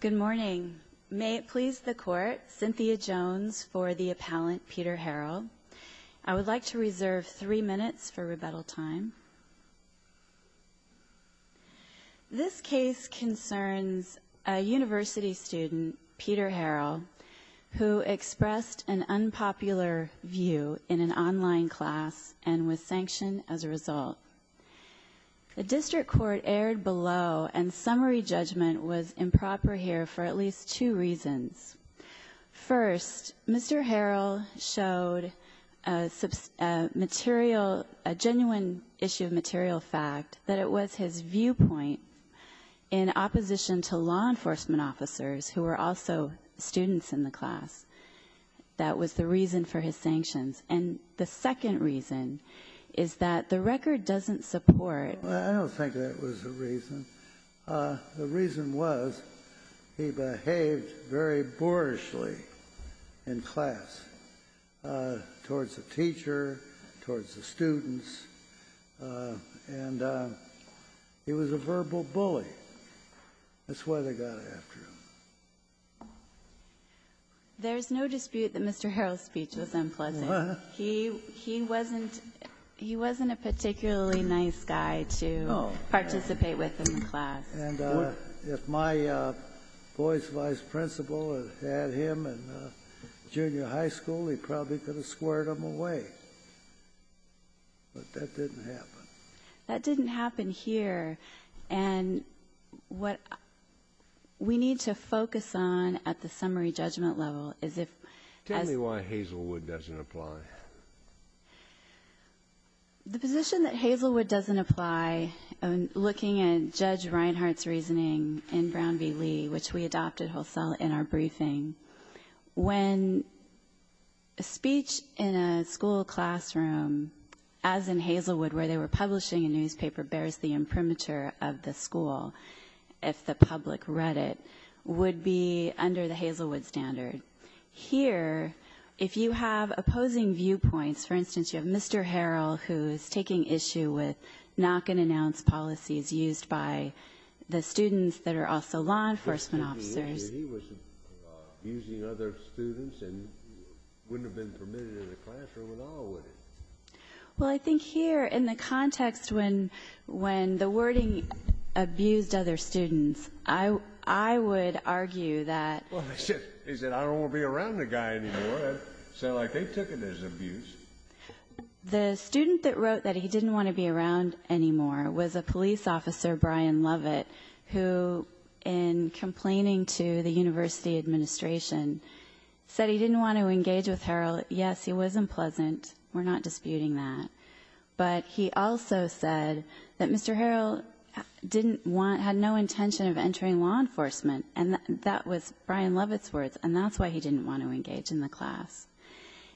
Good morning. May it please the court, Cynthia Jones for the appellant Peter Harrell. I would like to reserve three minutes for rebuttal time. This case concerns a university student, Peter Harrell, who expressed an unpopular view in an online class and was sanctioned as a result. The district court erred below and summary judgment was improper here for at least two reasons. First, Mr. Harrell showed a genuine issue of material fact that it was his viewpoint in opposition to law enforcement officers, who were also students in the class, that was the reason for his sanctions. And the second reason is that the record doesn't support the fact that it was a reason. The reason was he behaved very boorishly in class towards the teacher, towards the students, and he was a verbal bully. That's why they got after him. There's no dispute that Mr. Harrell's speech was unpleasant. He wasn't a particularly nice guy to participate with in the class. And if my boy's vice principal had had him in junior high school, he probably could have squared him away. But that didn't happen. That didn't happen here. And what we need to focus on at the summary judgment level is if— Tell me why Hazelwood doesn't apply. The position that Hazelwood doesn't apply, looking at Judge Reinhart's reasoning in Brown v. Lee, which we adopted wholesale in our briefing, when a speech in a school classroom, as in Hazelwood, where they were publishing a newspaper, bears the imprimatur of the school, if the public read it, would be under the Hazelwood standard. Here, if you have opposing viewpoints—for instance, you have Mr. Harrell, who is taking issue with knock-and-announce policies used by the students that are also law enforcement officers. He was abusing other students and wouldn't have been permitted in the classroom at all, would he? Well, I think here, in the context when the wording abused other students, I would argue that— Well, he said, I don't want to be around the guy anymore. It sounded like they took it as abuse. The student that wrote that he didn't want to be around anymore was a police officer, Brian Lovett, who, in complaining to the university administration, said he didn't want to engage with Harrell. Yes, he was unpleasant. We're not disputing that. But he also said that Mr. Harrell didn't want—had no intention of entering law enforcement. And that was Brian Lovett's words, and that's why he didn't want to engage in the class.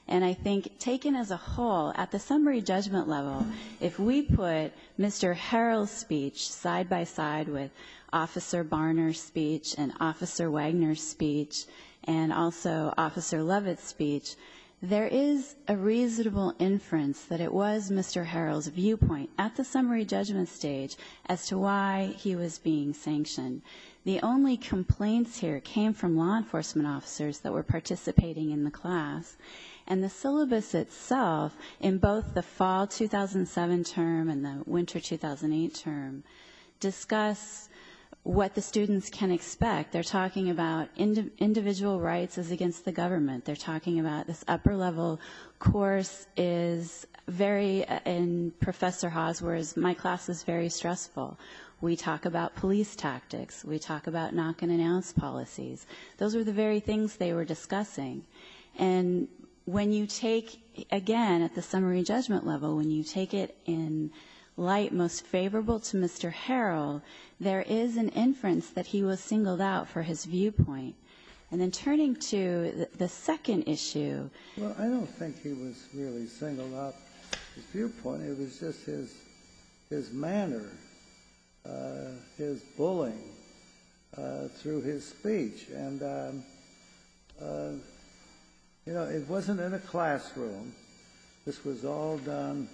And I think, taken as a whole, at the summary judgment level, if we put Mr. Harrell's speech side-by-side with Officer Barner's speech and Officer Wagner's speech and also Officer Lovett's speech, there is a reasonable inference that it was Mr. Harrell's viewpoint at the summary judgment stage as to why he was being sanctioned. The only complaints here came from law enforcement officers that were participating in the class. And the syllabus itself, in both the fall 2007 term and the winter 2008 term, discuss what the students can expect. They're talking about individual rights is against the government. They're talking about this upper-level course is very—and Professor Hawes was, my class is very stressful. We talk about police tactics. We talk about knock-and-announce policies. Those are the very things they were discussing. And when you take, again, at the summary judgment level, when you take it in light most favorable to Mr. Harrell, there is an inference that he was singled out for his viewpoint. And then turning to the second issue— his bullying through his speech. And, you know, it wasn't in a classroom. This was all done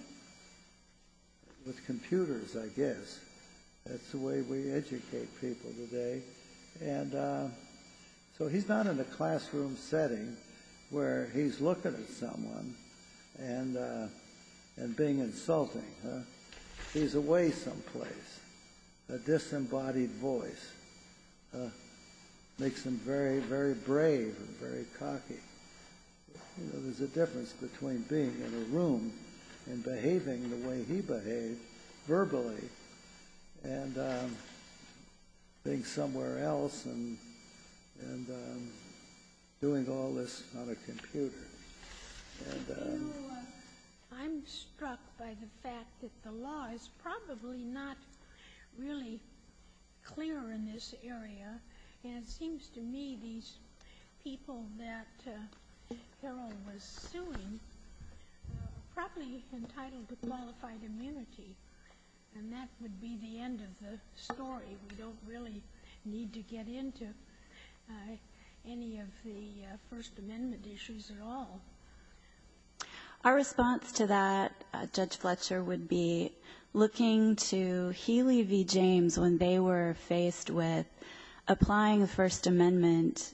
with computers, I guess. That's the way we educate people today. And so he's not in a classroom setting where he's looking at someone and being insulting. He's away someplace. A disembodied voice makes him very, very brave and very cocky. You know, there's a difference between being in a room and behaving the way he behaved, verbally, and being somewhere else and doing all this on a computer. You know, I'm struck by the fact that the law is probably not really clear in this area. And it seems to me these people that Harrell was suing are probably entitled to qualified immunity. And that would be the end of the story. We don't really need to get into any of the First Amendment issues at all. Our response to that, Judge Fletcher, would be looking to Healy v. James when they were faced with applying the First Amendment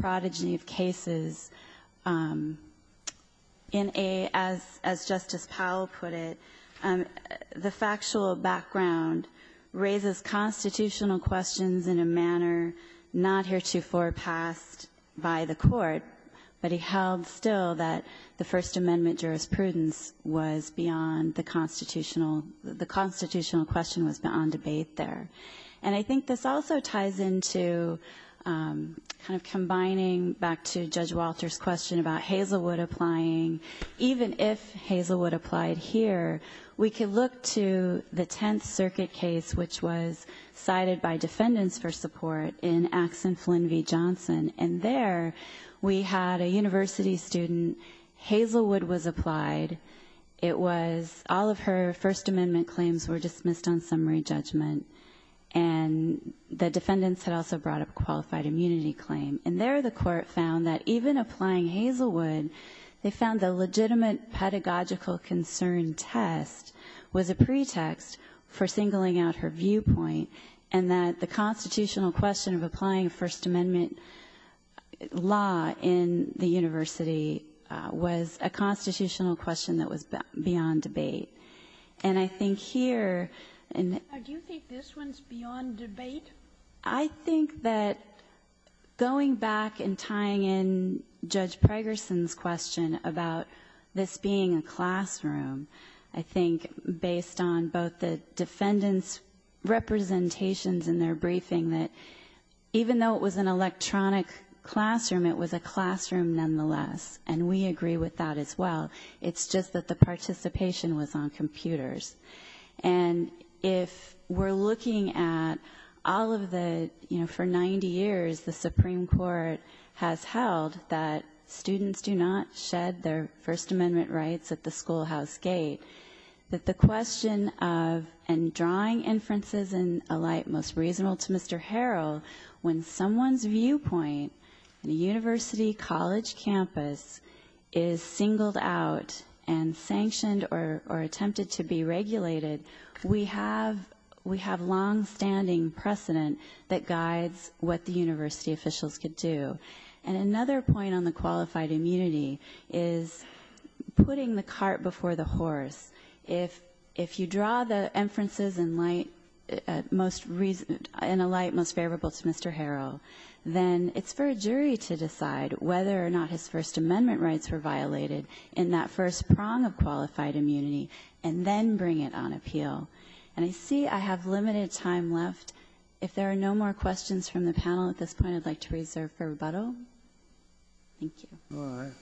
prodigy of cases in a, as Justice Powell put it, the factual background raises constitutional questions in a manner not heretofore passed by the court. But he held still that the First Amendment jurisprudence was beyond the constitutional, the constitutional question was beyond debate there. And I think this also ties into kind of combining back to Judge Walter's question about Hazelwood applying. Even if Hazelwood applied here, we could look to the Tenth Circuit case, which was cited by defendants for support in Axon Flynn v. Johnson. And there we had a university student. Hazelwood was applied. It was all of her First Amendment claims were dismissed on summary judgment. And the defendants had also brought up a qualified immunity claim. And there the Court found that even applying Hazelwood, they found the legitimate pedagogical concern test was a pretext for singling out her viewpoint, and that the constitutional question of applying a First Amendment law in the university was a constitutional question that was beyond debate. And I think here in the ---- Sotomayor, do you think this one's beyond debate? I think that going back and tying in Judge Pregerson's question about this being a classroom, I think based on both the defendants' representations in their briefing that even though it was an electronic classroom, it was a classroom nonetheless. And we agree with that as well. And if we're looking at all of the, you know, for 90 years the Supreme Court has held that students do not shed their First Amendment rights at the schoolhouse gate, that the question of and drawing inferences in a light most reasonable to Mr. Harrell, when someone's viewpoint on a university college campus is singled out and sanctioned or attempted to be regulated, we have longstanding precedent that guides what the university officials could do. And another point on the qualified immunity is putting the cart before the horse. If you draw the inferences in light most reasonable, in a light most favorable to Mr. Harrell, then it's for a jury to decide whether or not his First Amendment rights were violated in that first prong of qualified immunity and then bring it on appeal. And I see I have limited time left. If there are no more questions from the panel at this point, I'd like to reserve for rebuttal. Thank you. Breyer.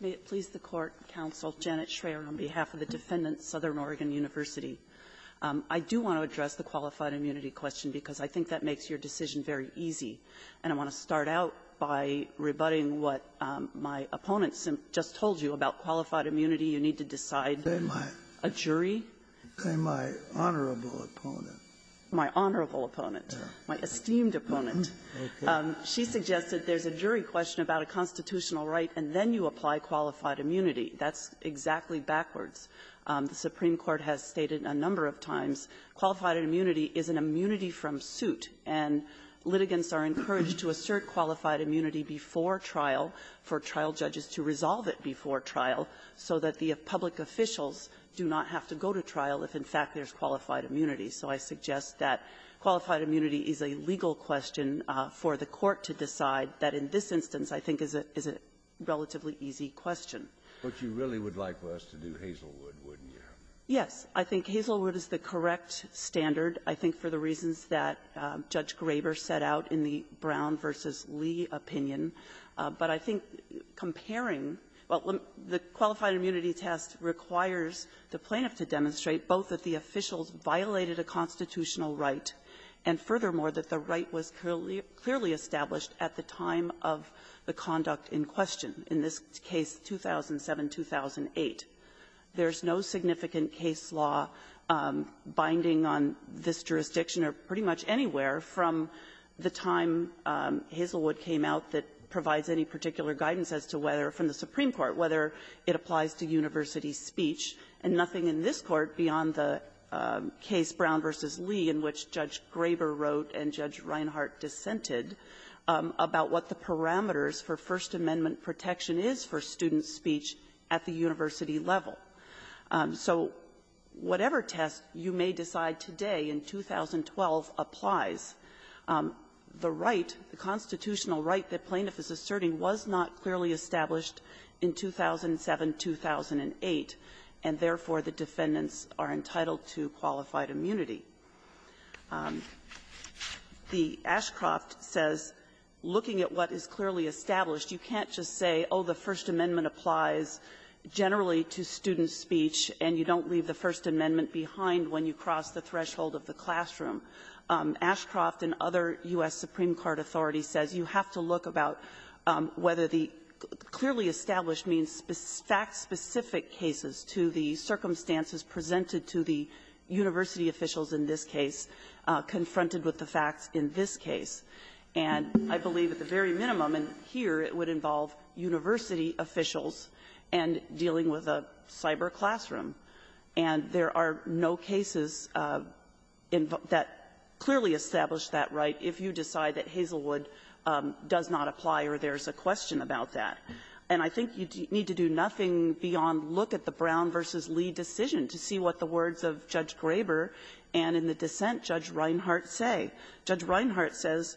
May it please the Court, Counsel, Janet Schreier, on behalf of the defendants, Southern Oregon University. I do want to address the qualified immunity question because I think that makes your decision very easy. And I want to start out by rebutting what my opponent just told you about qualified immunity. You need to decide a jury. And my honorable opponent. My honorable opponent. My esteemed opponent. She suggested there's a jury question about a constitutional right, and then you apply qualified immunity. That's exactly backwards. The Supreme Court has stated a number of times qualified immunity is an immunity from suit, and litigants are encouraged to assert qualified immunity before trial for trial judges to resolve it before trial so that the public officials do not have to go to trial if, in fact, there's qualified immunity. So I suggest that qualified immunity is a legal question for the Court to decide that in this instance, I think, is a relatively easy question. But you really would like for us to do Hazelwood, wouldn't you? Yes. I think Hazelwood is the correct standard, I think, for the reasons that Judge Graber set out in the Brown v. Lee opinion. But I think comparing the qualified immunity test requires the plaintiff to demonstrate both that the officials violated a constitutional right, and furthermore, that the right was clearly established at the time of the conduct in question, in this case, 2007-2008. There's no significant case law binding on this jurisdiction or pretty much anywhere from the time Hazelwood came out that provides any particular guidance as to whether, from the Supreme Court's point of view, the plaintiff has a right to university speech, and nothing in this Court beyond the case Brown v. Lee, in which Judge Graber wrote and Judge Reinhart dissented, about what the parameters for First Amendment protection is for student speech at the university level. So whatever test you may decide today in 2012 applies. The right, the constitutional right that plaintiff is asserting was not clearly established in 2007-2008, and therefore, the defendants are entitled to qualified immunity. The Ashcroft says, looking at what is clearly established, you can't just say, oh, the First Amendment applies generally to student speech, and you don't leave the First Amendment behind when you cross the threshold of the classroom. Ashcroft and other U.S. Supreme Court authorities says you have to look about whether the clearly established means fact-specific cases to the circumstances presented to the university officials in this case, confronted with the facts in this case. And I believe at the very minimum, and here it would involve university officials and dealing with a cyber classroom. And there are no cases that clearly establish that right if you decide that Hazelwood does not apply or there's a question about that. And I think you need to do nothing beyond look at the Brown v. Lee decision to see what the words of Judge Graber and in the dissent Judge Reinhart say. Judge Reinhart says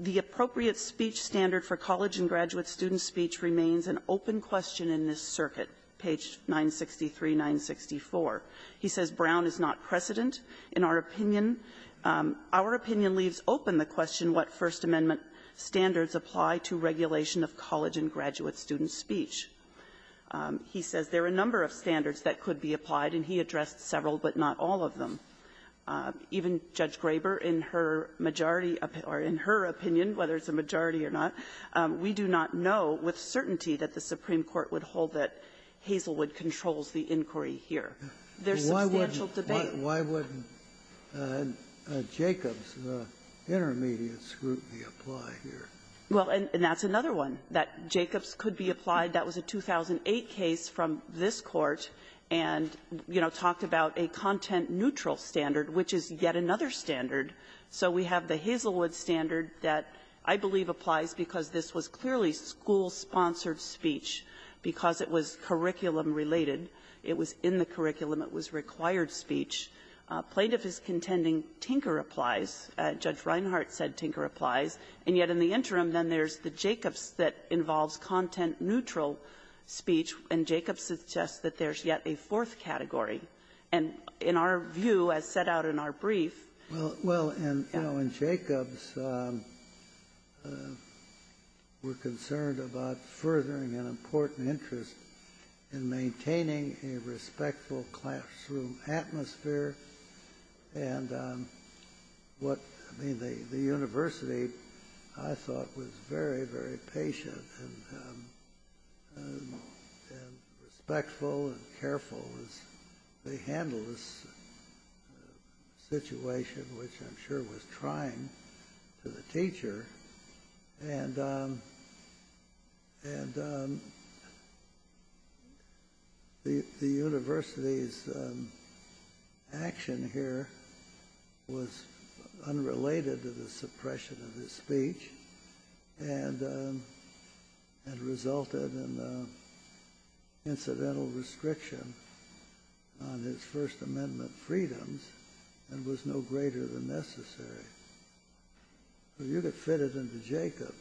the appropriate speech standard for college and graduate student speech remains an open question in this circuit, page 963, 964. He says Brown is not a precedent in our opinion. Our opinion leaves open the question what First Amendment standards apply to regulation of college and graduate student speech. He says there are a number of standards that could be applied, and he addressed several, but not all of them. Even Judge Graber, in her majority or in her opinion, whether it's a majority or not, we do not know with certainty that the Supreme Court would hold that Hazelwood controls the inquiry here. There's substantial debate. Scalia, why wouldn't Jacobs, the intermediates group, be applied here? Well, and that's another one, that Jacobs could be applied. That was a 2008 case from this Court and, you know, talked about a content-neutral standard, which is yet another standard. So we have the Hazelwood standard that I believe applies because this was clearly school-sponsored speech because it was curriculum-related. It was in the curriculum. It was required speech. Plaintiff is contending Tinker applies. Judge Reinhart said Tinker applies. And yet in the interim, then there's the Jacobs that involves content-neutral speech, and Jacobs suggests that there's yet a fourth category. And in our view, as set out in our brief… Well, and, you know, in Jacobs, we're concerned about furthering an important interest in maintaining a respectful classroom atmosphere and what, I mean, the university, I thought, was very, very patient and respectful and careful as they handled this situation, which I'm sure was trying to the teacher. And the university's action here was unrelated to the suppression of his speech and resulted in incidental restriction on his First Amendment freedoms and was no greater than necessary. You could fit it into Jacobs.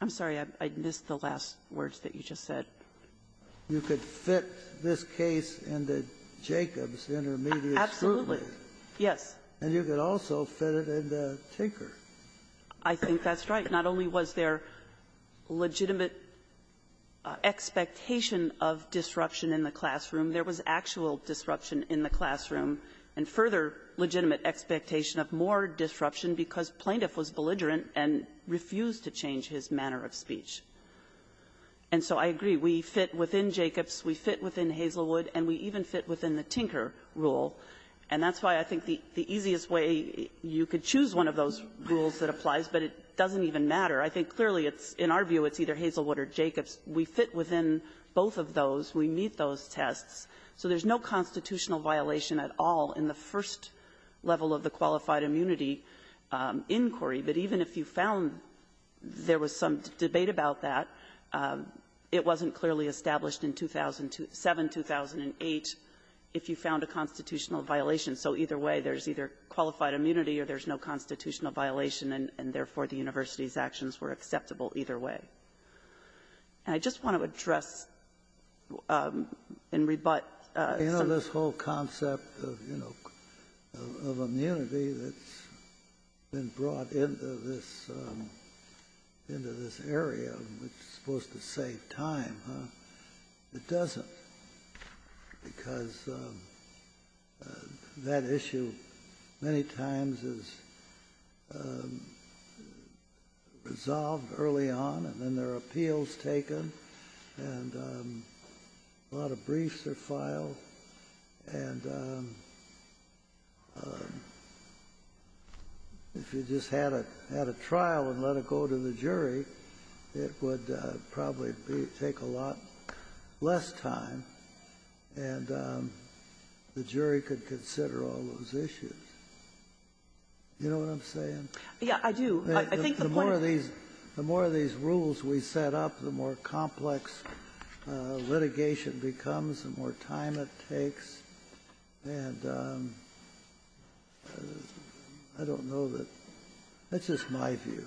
I'm sorry. I missed the last words that you just said. You could fit this case into Jacobs' intermediate scrutiny. Absolutely. Yes. And you could also fit it into Tinker. I think that's right. Not only was there legitimate expectation of disruption in the classroom, there was actual disruption in the classroom and further legitimate expectation of more disruption because Plaintiff was belligerent and refused to change his manner of speech. And so I agree. We fit within Jacobs. We fit within Hazelwood. And we even fit within the Tinker rule. And that's why I think the easiest way you could choose one of those rules that applies, but it doesn't even matter. I think clearly it's… in our view, it's either Hazelwood or Jacobs. We fit within both of those. We meet those tests. So there's no constitutional violation at all in the first level of the qualified immunity inquiry. But even if you found there was some debate about that, it wasn't clearly established in 2007, 2008, if you found a constitutional violation. So either way, there's either qualified immunity or there's no constitutional violation, and therefore, the university's actions were acceptable either way. And I just want to address and rebut… You know, this whole concept of, you know, of immunity that's been brought into this area, which is supposed to save time, huh? It doesn't. Because that issue many times is resolved early on, and then there are appeals taken, and a lot of briefs are filed. And if you just had a trial and let it go to the jury, it would probably take a lot less time, and the jury could consider all those issues. You know what I'm saying? Yeah, I do. I think the point of the rules we set up, the more complex litigation becomes, the more time it takes, and I don't know that — that's just my view.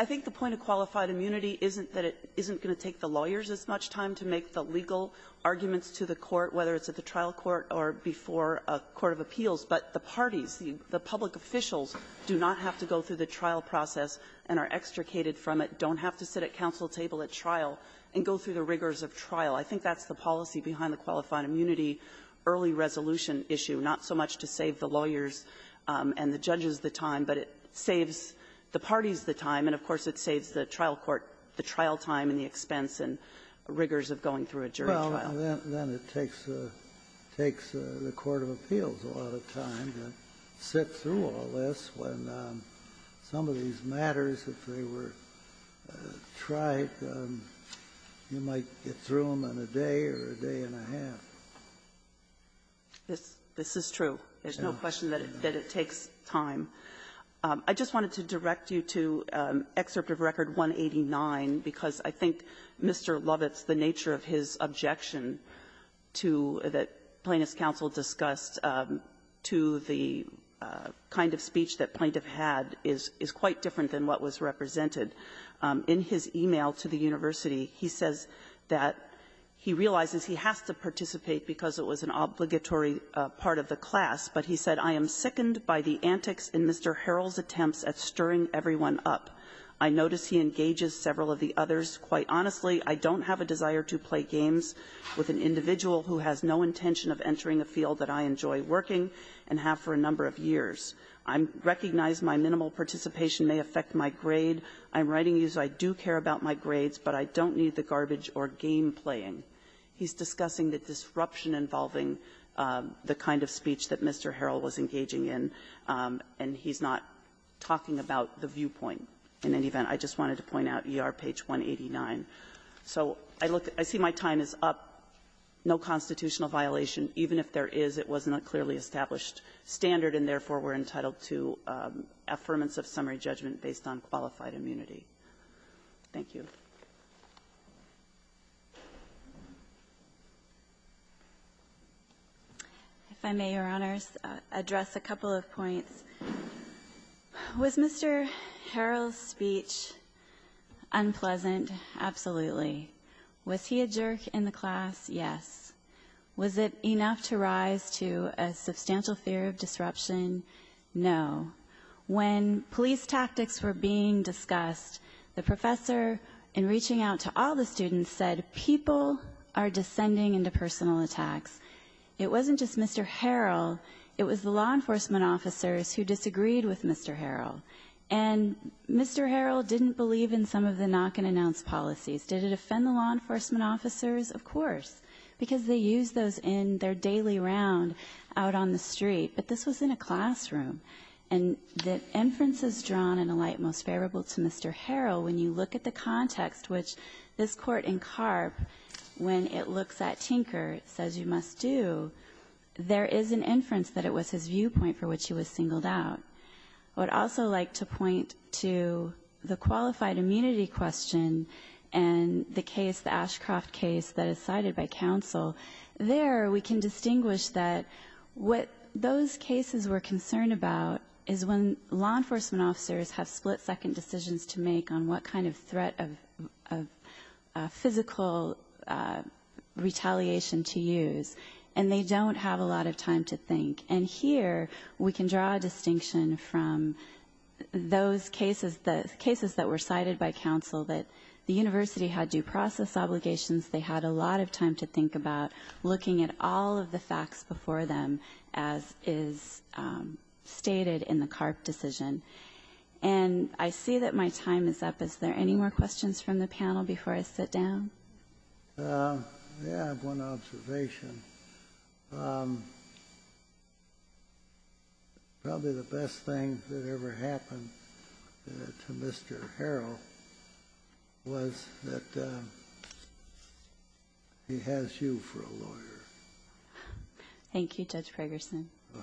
I think the point of qualified immunity isn't that it isn't going to take the lawyers as much time to make the legal arguments to the court, whether it's at the trial court or before a court of appeals, but the parties, the public officials do not have to go through the trial process and are extricated from it, don't have to sit at counsel table at trial, and go through the rigors of trial. I think that's the policy behind the qualified immunity early resolution issue, not so much to save the lawyers and the judges the time, but it saves the parties the time, and of course, it saves the trial court the trial time and the expense and rigors of going through a jury trial. Well, then it takes the court of appeals a lot of time to sit through all this. When some of these matters, if they were trite, you might get through them in a day or a day and a half. This is true. There's no question that it takes time. I just wanted to direct you to Excerpt of Record 189, because I think Mr. Lovitz, the nature of his objection to the plaintiff's counsel discussed to the kind of speech that plaintiff had is quite different than what was represented. In his e-mail to the university, he says that he realizes he has to participate because it was an obligatory part of the class, but he said, I am sickened by the politics in Mr. Harrell's attempts at stirring everyone up. I notice he engages several of the others. Quite honestly, I don't have a desire to play games with an individual who has no intention of entering a field that I enjoy working and have for a number of years. I recognize my minimal participation may affect my grade. I'm writing you so I do care about my grades, but I don't need the garbage or game-playing. He's discussing the disruption involving the kind of speech that Mr. Harrell was engaging in, and he's not talking about the viewpoint in any event. I just wanted to point out ER page 189. So I look at my time is up, no constitutional violation. Even if there is, it was not clearly established standard, and therefore, we're entitled to affirmance of summary judgment based on qualified immunity. Thank you. If I may, Your Honors, address a couple of points. Was Mr. Harrell's speech unpleasant? Absolutely. Was he a jerk in the class? Yes. Was it enough to rise to a substantial fear of disruption? No. When police tactics were being discussed, the professor, in reaching out to all the students, said, people are descending into personal attacks. It wasn't just Mr. Harrell. It was the law enforcement officers who disagreed with Mr. Harrell, and Mr. Harrell didn't believe in some of the knock-and-announce policies. Did it offend the law enforcement officers? Of course, because they used those in their daily round out on the street, but this was in a classroom, and the inferences drawn in a light most favorable to Mr. Harrell, when you look at the context which this Court in Karp, when it looks at Tinker, says you must do, there is an inference that it was his viewpoint for which he was singled out. I would also like to point to the qualified immunity question and the case, the Ashcroft case, that is cited by counsel. There, we can distinguish that what those cases were concerned about is when law enforcement officers have split-second decisions to make on what kind of threat of physical retaliation to use, and they don't have a lot of time to think. And here, we can draw a distinction from those cases, the cases that were cited by counsel, that the university had due process obligations, they had a lot of time to think about looking at all of the facts before them, as is stated in the Karp decision. And I see that my time is up. Is there any more questions from the panel before I sit down? Yeah, I have one observation. Probably the best thing that ever happened to Mr. Harrell was that he has you for a lawyer. Thank you, Judge Ferguson. All right. Thank you. Thank you.